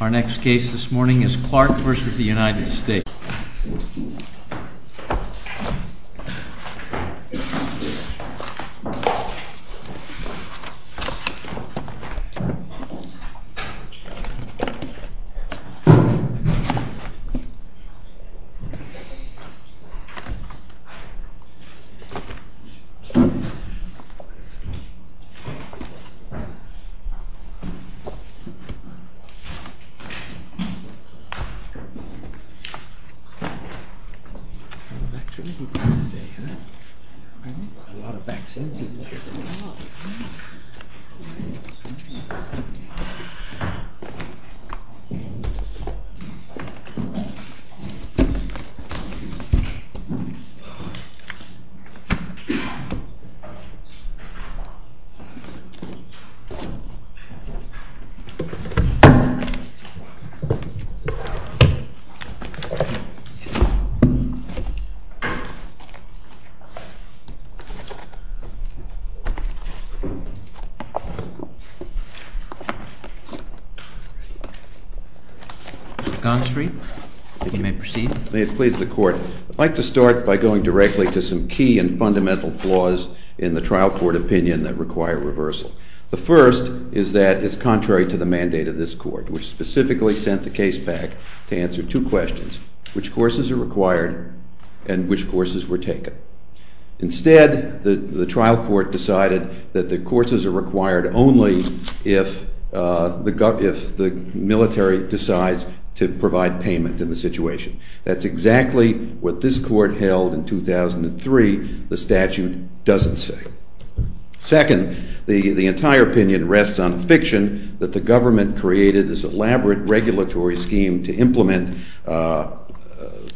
Our next case this morning is Clark v. United States. Clark v. United States Mr. Gonstrey, you may proceed. May it please the Court. I'd like to start by going directly to some key and fundamental flaws in the trial court opinion that require reversal. The first is that it's contrary to the mandate of this Court, which specifically sent the case back to answer two questions, which courses are required and which courses were taken. Instead, the trial court decided that the courses are required only if the military decides to provide payment in the situation. That's exactly what this Court held in 2003. The statute doesn't say. Second, the entire opinion rests on a fiction that the government created this elaborate regulatory scheme to implement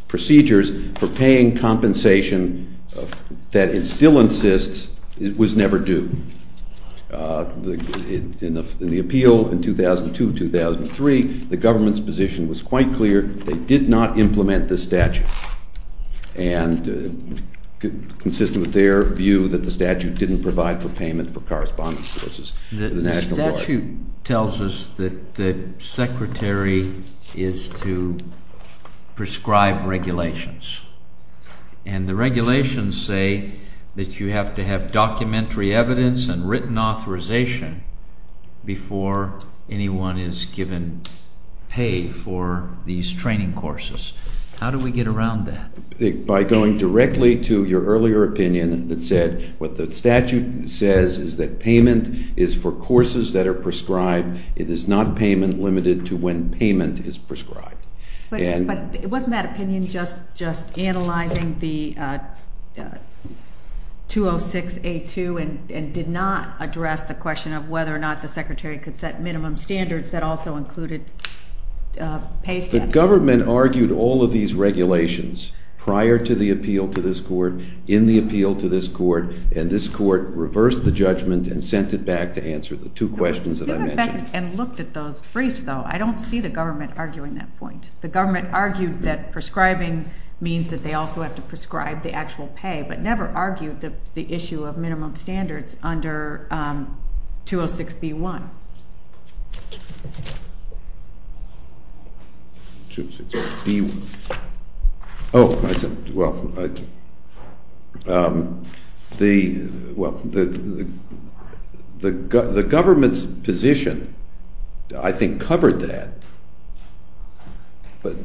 procedures for paying compensation that it still insists was never due. In the appeal in 2002-2003, the government's position was quite clear. They did not implement this statute, consistent with their view that the statute didn't provide for payment for correspondence purposes to the National Guard. The statute tells us that the secretary is to prescribe regulations. And the regulations say that you have to have documentary evidence and written authorization before anyone is given pay for these training courses. How do we get around that? By going directly to your earlier opinion that said what the statute says is that payment is for courses that are prescribed. It is not payment limited to when payment is prescribed. But wasn't that opinion just analyzing the 206A2 and did not address the question of whether or not the secretary could set minimum standards that also included pay statutes? The government argued all of these regulations prior to the appeal to this Court, in the appeal to this Court, and this Court reversed the judgment and sent it back to answer the two questions that I mentioned. I went and looked at those briefs, though. I don't see the government arguing that point. The government argued that prescribing means that they also have to prescribe the actual pay, but never argued the issue of minimum standards under 206B1. The government's position, I think, covered that.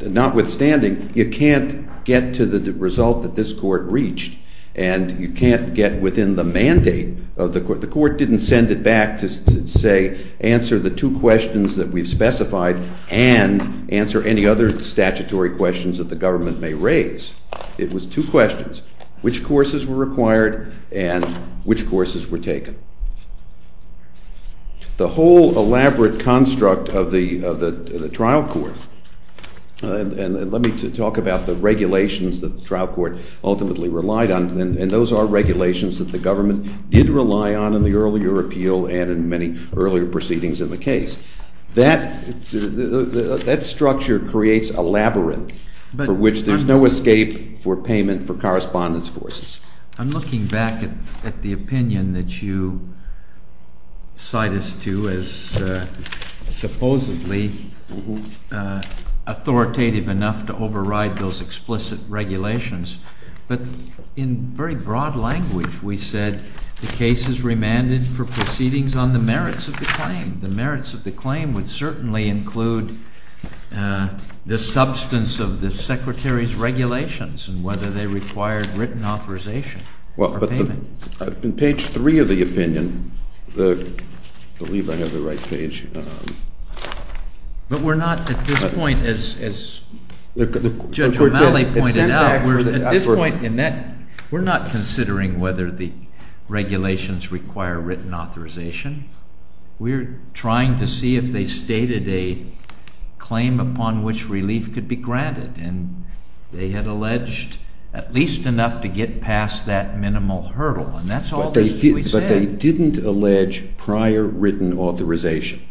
Notwithstanding, you can't get to the result that this Court reached, and you can't get within the mandate of the Court. The Court didn't send it back to, say, answer the two questions that we've specified and answer any other statutory questions that the government may raise. It was two questions, which courses were required and which courses were taken. The whole elaborate construct of the trial court, and let me talk about the regulations that the trial court ultimately relied on, and those are regulations that the government did rely on in the earlier appeal and in many earlier proceedings in the case. That structure creates a labyrinth for which there's no escape for payment for correspondence courses. I'm looking back at the opinion that you cite us to as supposedly authoritative enough to override those explicit regulations, but in very broad language we said the case is remanded for proceedings on the merits of the claim. And that opinion would certainly include the substance of the Secretary's regulations and whether they required written authorization for payment. Well, but in page 3 of the opinion, I believe I have the right page. But we're not at this point, as Judge O'Malley pointed out, we're at this point in that we're not considering whether the regulations require written authorization. We're trying to see if they stated a claim upon which relief could be granted, and they had alleged at least enough to get past that minimal hurdle, and that's all that we said. But they didn't allege prior written authorization,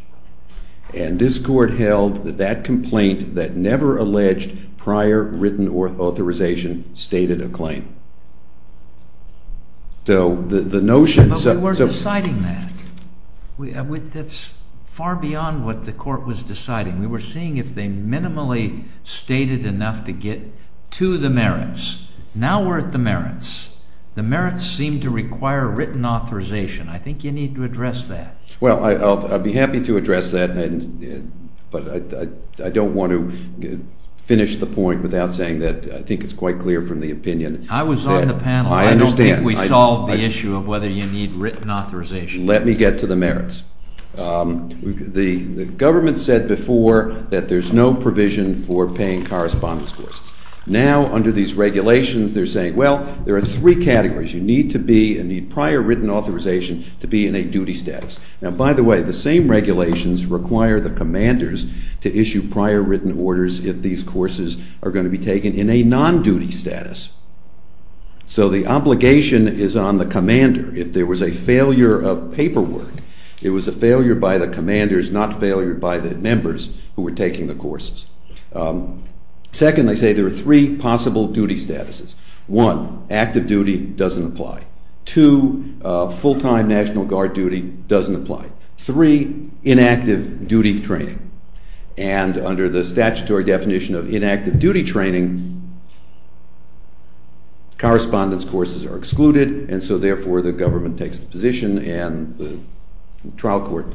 and this court held that that complaint that never alleged prior written authorization stated a claim. But we weren't deciding that. That's far beyond what the court was deciding. We were seeing if they minimally stated enough to get to the merits. Now we're at the merits. The merits seem to require written authorization. I think you need to address that. Well, I'd be happy to address that, but I don't want to finish the point without saying that I think it's quite clear from the opinion. I was on the panel. I don't think we solved the issue of whether you need written authorization. Let me get to the merits. The government said before that there's no provision for paying correspondence courses. Now, under these regulations, they're saying, well, there are three categories. You need to be, and need prior written authorization to be in a duty status. Now, by the way, the same regulations require the commanders to issue prior written orders if these courses are going to be taken in a non-duty status. So the obligation is on the commander. If there was a failure of paperwork, it was a failure by the commanders, not failure by the members who were taking the courses. Second, they say there are three possible duty statuses. One, active duty doesn't apply. Two, full-time National Guard duty doesn't apply. Three, inactive duty training. And under the statutory definition of inactive duty training, correspondence courses are excluded. And so, therefore, the government takes the position and the trial court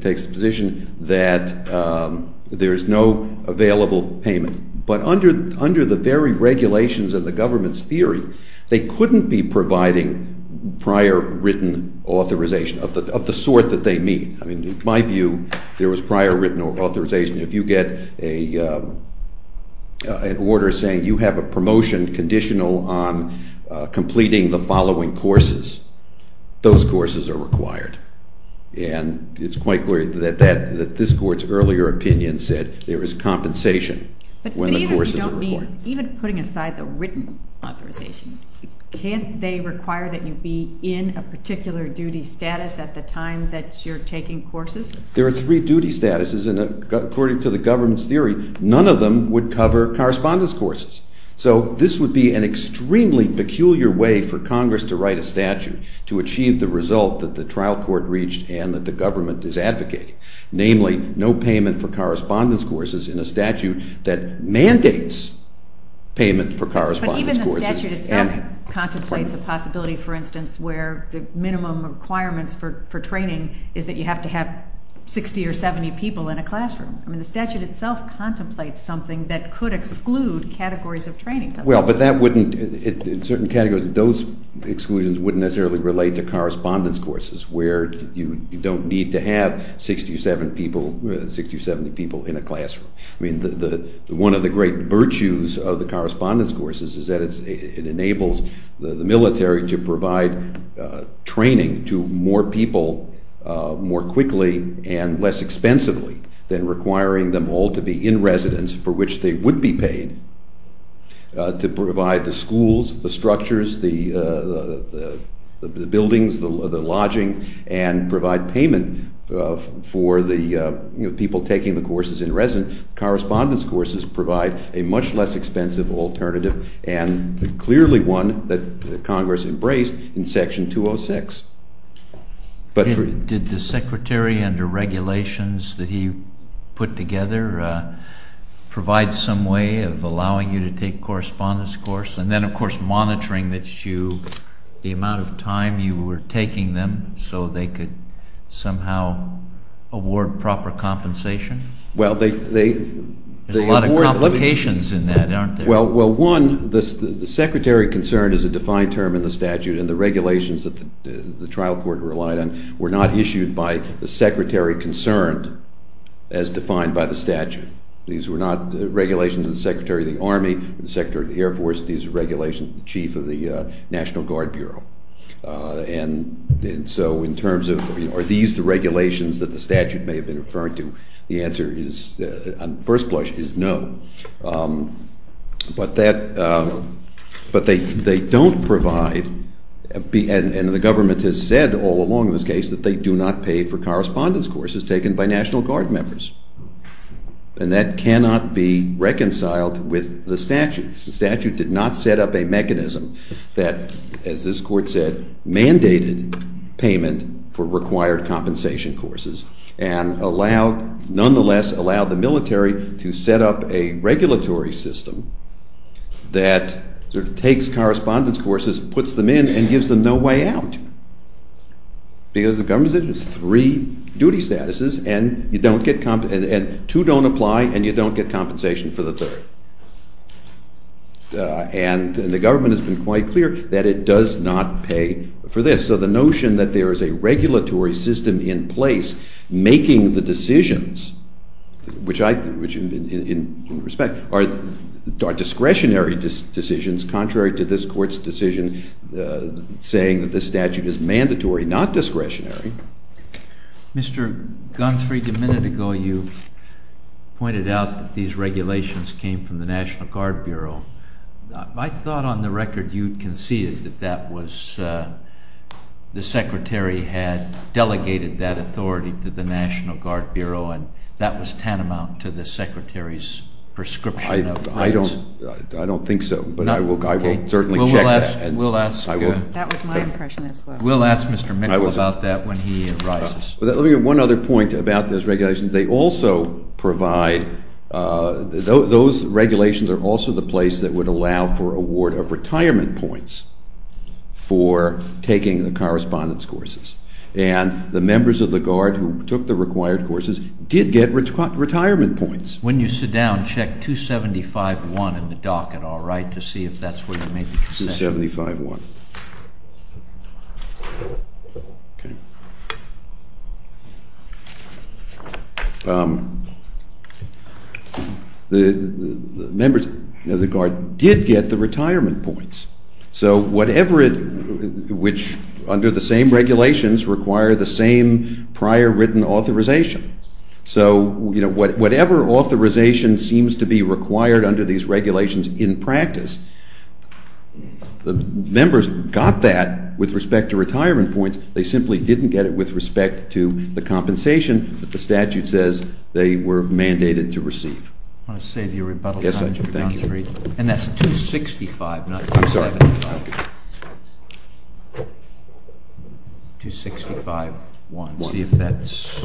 takes the position that there is no available payment. But under the very regulations of the government's theory, they couldn't be providing prior written authorization of the sort that they need. I mean, in my view, there was prior written authorization. If you get an order saying you have a promotion conditional on completing the following courses, those courses are required. And it's quite clear that this court's earlier opinion said there is compensation when the courses are required. But even putting aside the written authorization, can't they require that you be in a particular duty status at the time that you're taking courses? There are three duty statuses, and according to the government's theory, none of them would cover correspondence courses. So this would be an extremely peculiar way for Congress to write a statute to achieve the result that the trial court reached and that the government is advocating. Namely, no payment for correspondence courses in a statute that mandates payment for correspondence courses. But even the statute itself contemplates the possibility, for instance, where the minimum requirements for training is that you have to have 60 or 70 people in a classroom. I mean, the statute itself contemplates something that could exclude categories of training, doesn't it? Well, but that wouldn't, in certain categories, those exclusions wouldn't necessarily relate to correspondence courses where you don't need to have 60 or 70 people in a classroom. I mean, one of the great virtues of the correspondence courses is that it enables the military to provide training to more people more quickly and less expensively than requiring them all to be in residence for which they would be paid to provide the schools, the structures, the buildings, the lodging, and provide payment for the people taking the courses in residence. Correspondence courses provide a much less expensive alternative and clearly one that Congress embraced in Section 206. Did the Secretary, under regulations that he put together, provide some way of allowing you to take correspondence course? And then, of course, monitoring the amount of time you were taking them so they could somehow award proper compensation? Well, they... There's a lot of complications in that, aren't there? Well, one, the Secretary concerned is a defined term in the statute and the regulations that the trial court relied on were not issued by the Secretary concerned as defined by the statute. These were not regulations of the Secretary of the Army, the Secretary of the Air Force. These are regulations of the Chief of the National Guard Bureau. And so in terms of are these the regulations that the statute may have been referring to, the answer is, on first blush, is no. But they don't provide, and the government has said all along in this case, that they do not pay for correspondence courses taken by National Guard members. And that cannot be reconciled with the statutes. The statute did not set up a mechanism that, as this court said, mandated payment for required compensation courses and allowed, nonetheless, allowed the military to set up a regulatory system that sort of takes correspondence courses, puts them in, and gives them no way out. Because the government said there's three duty statuses, and you don't get, and two don't apply, and you don't get compensation for the third. And the government has been quite clear that it does not pay for this. So the notion that there is a regulatory system in place making the decisions, which in respect are discretionary decisions contrary to this court's decision saying that this statute is mandatory, not discretionary. Mr. Gunsford, a minute ago you pointed out that these regulations came from the National Guard Bureau. My thought on the record, you conceded that that was, the Secretary had delegated that authority to the National Guard Bureau, and that was tantamount to the Secretary's prescription of funds. I don't think so, but I will certainly check that. That was my impression as well. We'll ask Mr. Mickle about that when he arises. Let me get one other point about those regulations. They also provide, those regulations are also the place that would allow for award of retirement points for taking the correspondence courses. And the members of the Guard who took the required courses did get retirement points. When you sit down, check 275.1 in the docket, all right, to see if that's where you made the concession. 275.1. Okay. The members of the Guard did get the retirement points, so whatever it, which under the same regulations require the same prior written authorization. So, you know, whatever authorization seems to be required under these regulations in practice, the members got that with respect to retirement points. They simply didn't get it with respect to the compensation that the statute says they were mandated to receive. I want to say to your rebuttal- Yes, I do, thank you. And that's 265, not 275. 265.1. See if that's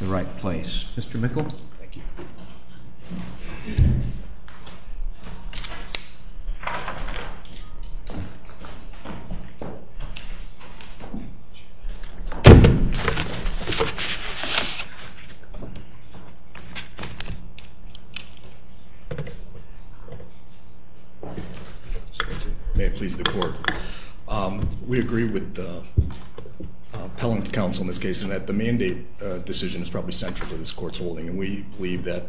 the right place. Mr. Mickle? Thank you. May it please the court. We agree with the appellant counsel in this case in that the mandate decision is probably central to this court's holding. And we believe that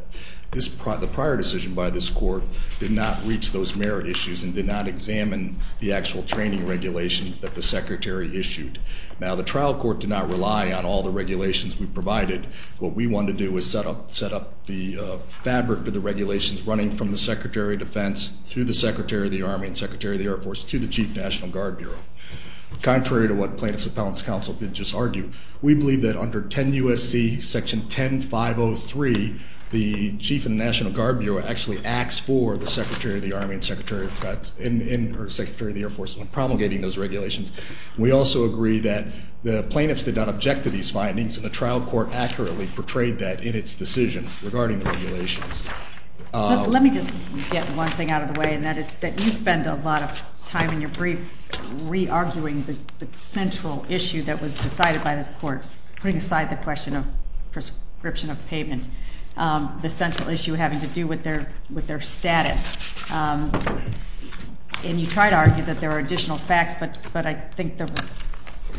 the prior decision by this court did not reach those merit issues and did not examine the actual training regulations that the secretary issued. Now, the trial court did not rely on all the regulations we provided. What we wanted to do was set up the fabric of the regulations running from the Secretary of Defense through the Secretary of the Army and Secretary of the Air Force to the Chief National Guard Bureau. Contrary to what plaintiff's appellant's counsel did just argue, we believe that under 10 U.S.C. Section 10503, the Chief of the National Guard Bureau actually acts for the Secretary of the Army and Secretary of Defense, or Secretary of the Air Force when promulgating those regulations. We also agree that the plaintiffs did not object to these findings, and the trial court accurately portrayed that in its decision regarding the regulations. Let me just get one thing out of the way, and that is that you spend a lot of time in your brief re-arguing the central issue that was decided by this court, putting aside the question of prescription of payment, the central issue having to do with their status. And you try to argue that there are additional facts, but I think the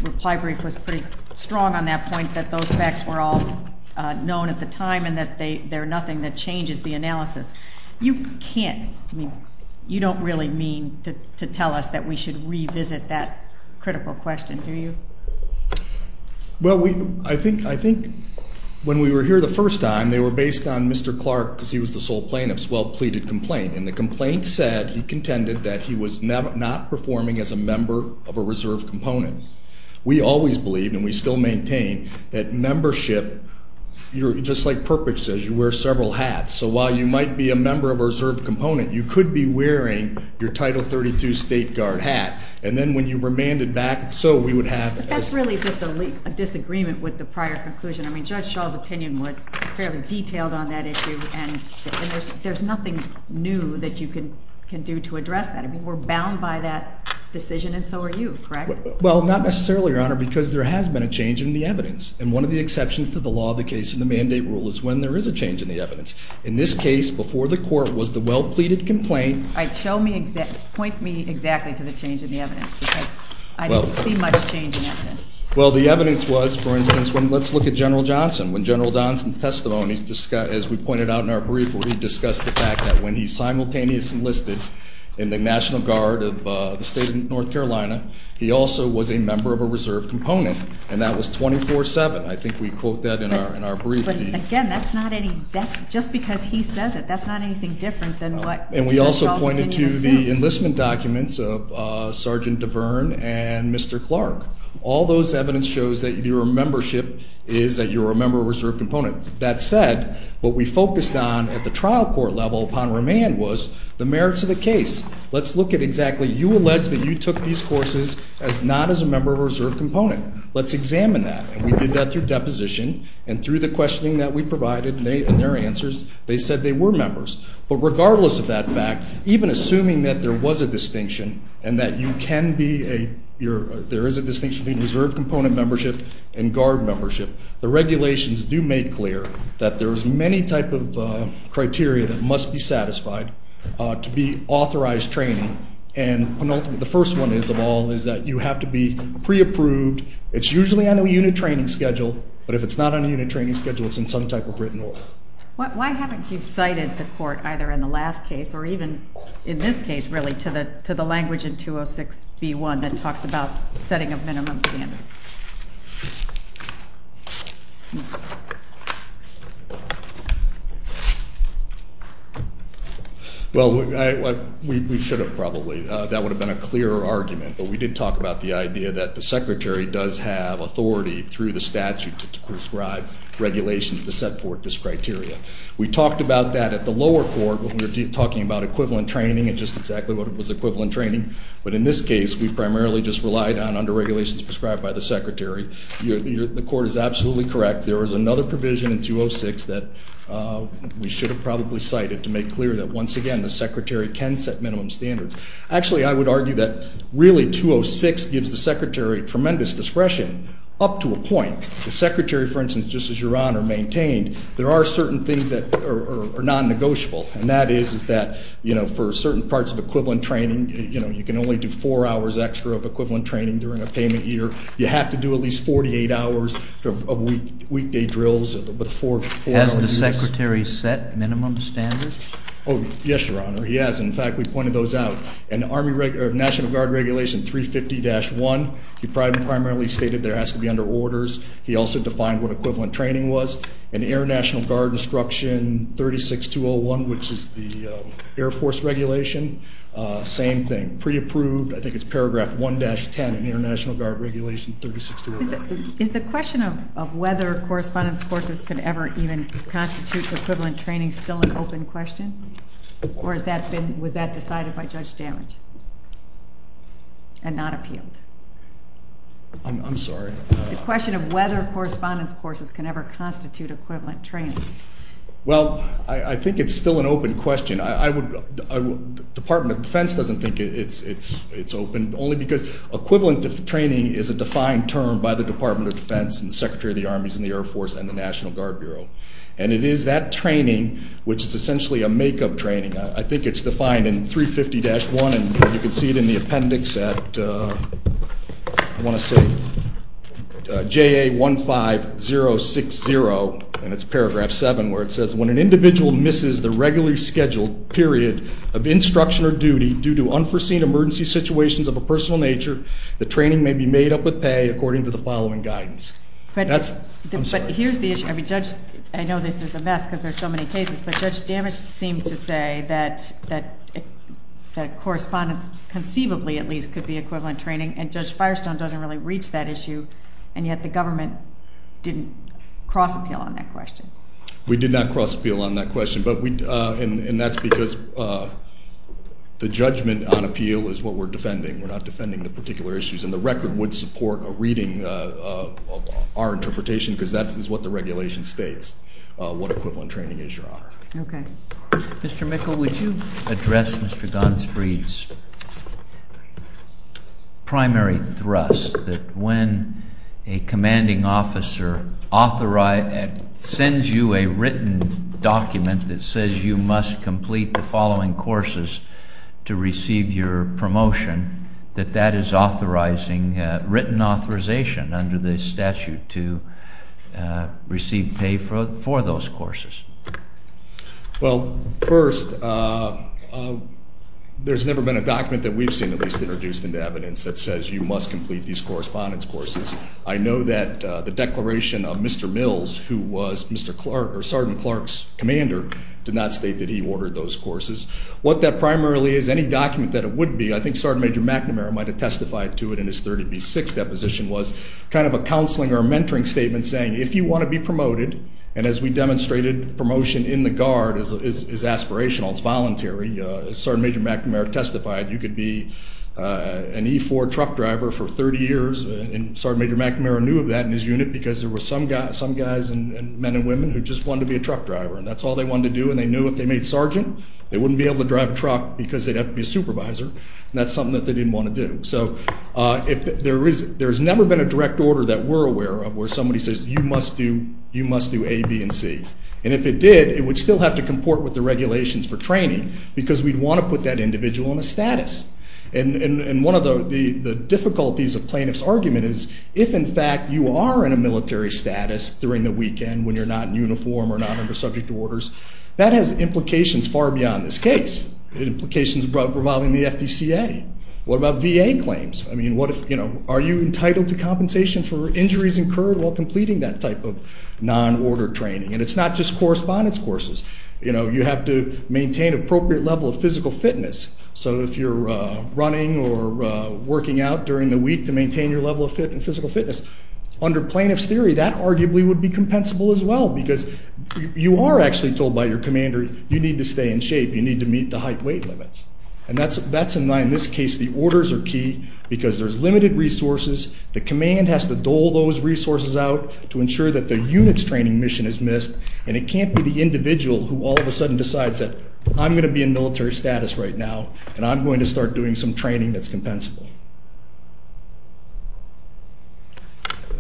reply brief was pretty strong on that point, that those facts were all known at the time and that they're nothing that changes the analysis. You can't, I mean, you don't really mean to tell us that we should revisit that critical question, do you? Well, I think when we were here the first time, they were based on Mr. Clark because he was the sole plaintiff's well-pleaded complaint. And the complaint said he contended that he was not performing as a member of a reserve component. We always believed, and we still maintain, that membership, you're just like Perpich says, you wear several hats. So while you might be a member of a reserve component, you could be wearing your Title 32 state guard hat. And then when you remanded back, so we would have- But that's really just a disagreement with the prior conclusion. I mean, Judge Shaw's opinion was fairly detailed on that issue, and there's nothing new that you can do to address that. I mean, we're bound by that decision, and so are you, correct? Well, not necessarily, Your Honor, because there has been a change in the evidence. And one of the exceptions to the law of the case and the mandate rule is when there is a change in the evidence. In this case, before the court was the well-pleaded complaint- All right, show me, point me exactly to the change in the evidence because I don't see much change in evidence. Well, the evidence was, for instance, let's look at General Johnson. When General Johnson's testimony, as we pointed out in our brief, where he discussed the fact that when he simultaneously enlisted in the National Guard of the state of North Carolina, he also was a member of a reserve component, and that was 24-7. I think we quote that in our brief. But again, that's not any- just because he says it, that's not anything different than what Judge Shaw's opinion assumed. And we also pointed to the enlistment documents of Sergeant DeVern and Mr. Clark. All those evidence shows that your membership is that you're a member of a reserve component. That said, what we focused on at the trial court level upon remand was the merits of the case. Let's look at exactly- you allege that you took these courses as not as a member of a reserve component. Let's examine that. And we did that through deposition, and through the questioning that we provided and their answers, they said they were members. But regardless of that fact, even assuming that there was a distinction and that you can be a- there is a distinction between reserve component membership and guard membership, the regulations do make clear that there's many type of criteria that must be satisfied to be authorized training. And the first one is, of all, is that you have to be pre-approved. It's usually on a unit training schedule, but if it's not on a unit training schedule, it's in some type of written order. Why haven't you cited the court either in the last case or even in this case, really, to the language in 206B1 that talks about setting of minimum standards? Well, we should have probably. That would have been a clearer argument, but we did talk about the idea that the Secretary does have authority through the statute to prescribe regulations to set forth this criteria. We talked about that at the lower court when we were talking about equivalent training and just exactly what was equivalent training. But in this case, we primarily just relied on under-regulations prescribed by the Secretary. The court is absolutely correct. There was another provision in 206 that we should have probably cited to make clear that, once again, the Secretary can set minimum standards. Actually, I would argue that, really, 206 gives the Secretary tremendous discretion up to a point. The Secretary, for instance, just as Your Honor maintained, there are certain things that are non-negotiable, and that is that, you know, for certain parts of equivalent training, you know, you can only do four hours extra of equivalent training during a payment year. You have to do at least 48 hours of weekday drills before you do this. Has the Secretary set minimum standards? Oh, yes, Your Honor, he has. In fact, we pointed those out. In National Guard Regulation 350-1, he primarily stated there has to be under orders. He also defined what equivalent training was. In Air National Guard Instruction 36201, which is the Air Force regulation, same thing, pre-approved. I think it's paragraph 1-10 in Air National Guard Regulation 36201. Is the question of whether correspondence courses could ever even constitute equivalent training still an open question? Or was that decided by Judge Damage and not appealed? I'm sorry? The question of whether correspondence courses can ever constitute equivalent training. Well, I think it's still an open question. The Department of Defense doesn't think it's open, only because equivalent training is a defined term by the Department of Defense and the Secretary of the Armies and the Air Force and the National Guard Bureau. And it is that training which is essentially a make-up training. I think it's defined in 350-1, and you can see it in the appendix at JA15060, and it's paragraph 7, where it says when an individual misses the regularly scheduled period of instruction or duty due to unforeseen emergency situations of a personal nature, the training may be made up with pay according to the following guidance. I'm sorry. But here's the issue. I know this is a mess because there are so many cases, but Judge Damage seemed to say that correspondence conceivably at least could be equivalent training, and Judge Firestone doesn't really reach that issue, and yet the government didn't cross-appeal on that question. We did not cross-appeal on that question, and that's because the judgment on appeal is what we're defending. We're not defending the particular issues, and the record would support a reading of our interpretation because that is what the regulation states what equivalent training is, Your Honor. Okay. Mr. Mickle, would you address Mr. Gonsfried's primary thrust that when a commanding officer authorizes sends you a written document that says you must complete the following courses to receive your promotion, that that is authorizing written authorization under the statute to receive pay for those courses? Well, first, there's never been a document that we've seen at least introduced into evidence that says you must complete these correspondence courses. I know that the declaration of Mr. Mills, who was Sergeant Clark's commander, did not state that he ordered those courses. What that primarily is, any document that it would be, I think Sergeant Major McNamara might have testified to it in his 30B6 deposition, was kind of a counseling or mentoring statement saying if you want to be promoted, and as we demonstrated promotion in the Guard is aspirational, it's voluntary. Sergeant Major McNamara testified you could be an E-4 truck driver for 30 years, and Sergeant Major McNamara knew of that in his unit because there were some guys and men and women who just wanted to be a truck driver, and that's all they wanted to do. And they knew if they made sergeant, they wouldn't be able to drive a truck because they'd have to be a supervisor, and that's something that they didn't want to do. So there's never been a direct order that we're aware of where somebody says you must do A, B, and C. And if it did, it would still have to comport with the regulations for training because we'd want to put that individual on a status. And one of the difficulties of plaintiff's argument is if, in fact, you are in a military status during the weekend when you're not in uniform or not under subject to orders, that has implications far beyond this case. It implications revolving the FDCA. What about VA claims? I mean, what if, you know, are you entitled to compensation for injuries incurred while completing that type of non-order training? And it's not just correspondence courses. You know, you have to maintain appropriate level of physical fitness. So if you're running or working out during the week to maintain your level of physical fitness, under plaintiff's theory that arguably would be compensable as well because you are actually told by your commander you need to stay in shape. You need to meet the height weight limits. And that's in this case the orders are key because there's limited resources. The command has to dole those resources out to ensure that the unit's training mission is missed, and it can't be the individual who all of a sudden decides that I'm going to be in military status right now and I'm going to start doing some training that's compensable.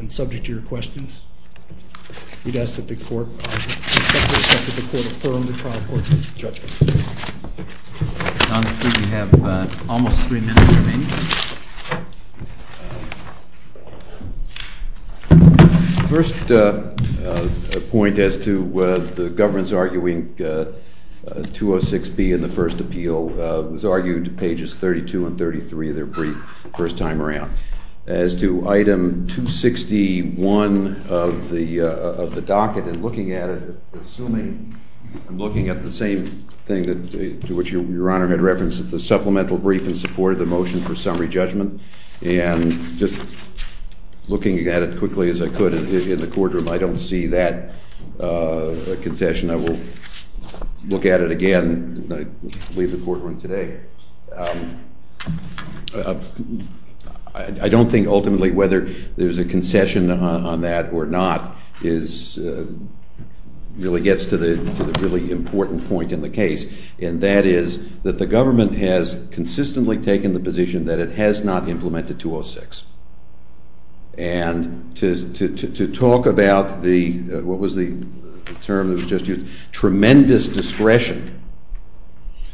And subject to your questions, we'd ask that the court affirm the trial court's judgment. We have almost three minutes remaining. The first point as to the government's arguing 206B in the first appeal was argued pages 32 and 33 of their brief the first time around. As to item 261 of the docket and looking at it, Your Honor had referenced the supplemental brief in support of the motion for summary judgment. And just looking at it quickly as I could in the courtroom, I don't see that concession. I will look at it again when I leave the courtroom today. I don't think ultimately whether there's a concession on that or not really gets to the really important point in the case, and that is that the government has consistently taken the position that it has not implemented 206. And to talk about what was the term that was just used, tremendous discretion.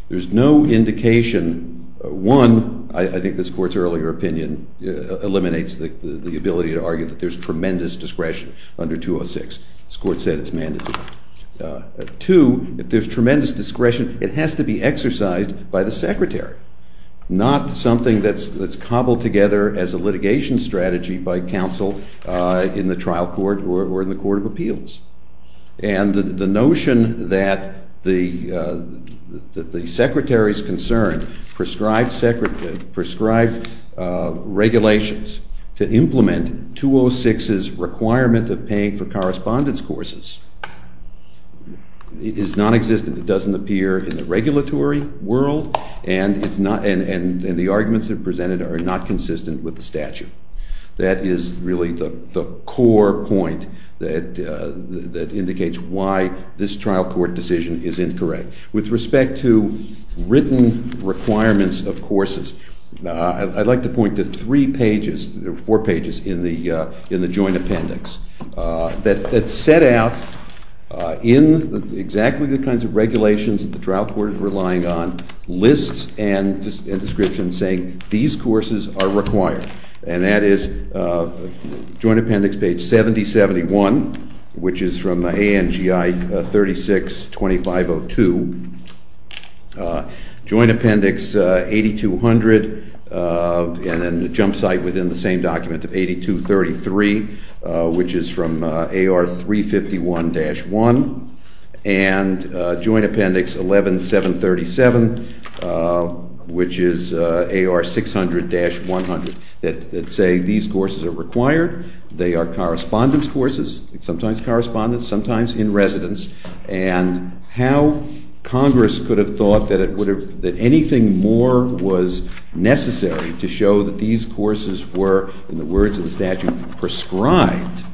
There's no indication. One, I think this court's earlier opinion eliminates the ability to argue that there's tremendous discretion under 206. This court said it's mandatory. Two, if there's tremendous discretion, it has to be exercised by the secretary, not something that's cobbled together as a litigation strategy by counsel in the trial court or in the court of appeals. And the notion that the secretary's concern prescribed regulations to implement 206's requirement of paying for correspondence courses is nonexistent. It doesn't appear in the regulatory world, and the arguments that are presented are not consistent with the statute. That is really the core point that indicates why this trial court decision is incorrect. With respect to written requirements of courses, I'd like to point to three pages or four pages in the joint appendix that set out in exactly the kinds of regulations that the trial court is relying on lists and descriptions saying these courses are required. And that is joint appendix page 7071, which is from ANGI 362502. Joint appendix 8200, and then the jump site within the same document of 8233, which is from AR 351-1. And joint appendix 11737, which is AR 600-100, that say these courses are required. They are correspondence courses, sometimes correspondence, sometimes in residence. And how Congress could have thought that anything more was necessary to show that these courses were, in the words of the statute, prescribed,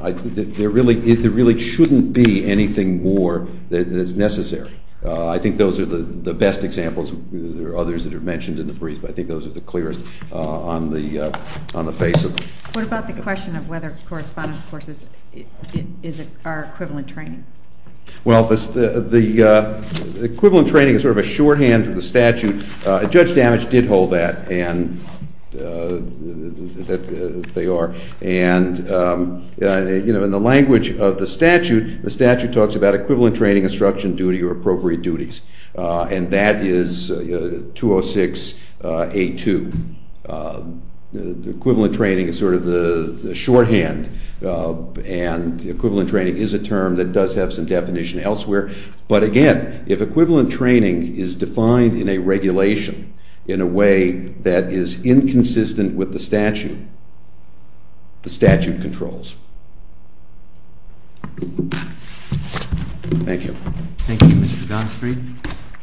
there really shouldn't be anything more that is necessary. I think those are the best examples. There are others that are mentioned in the brief, but I think those are the clearest on the face of it. What about the question of whether correspondence courses are equivalent training? Well, the equivalent training is sort of a shorthand for the statute. Judge Damage did hold that, that they are. And in the language of the statute, the statute talks about equivalent training instruction duty or appropriate duties. And that is 206A2. Equivalent training is sort of the shorthand, and equivalent training is a term that does have some definition elsewhere. But again, if equivalent training is defined in a regulation in a way that is inconsistent with the statute, the statute controls. Thank you. Thank you, Mr. Gonsfried.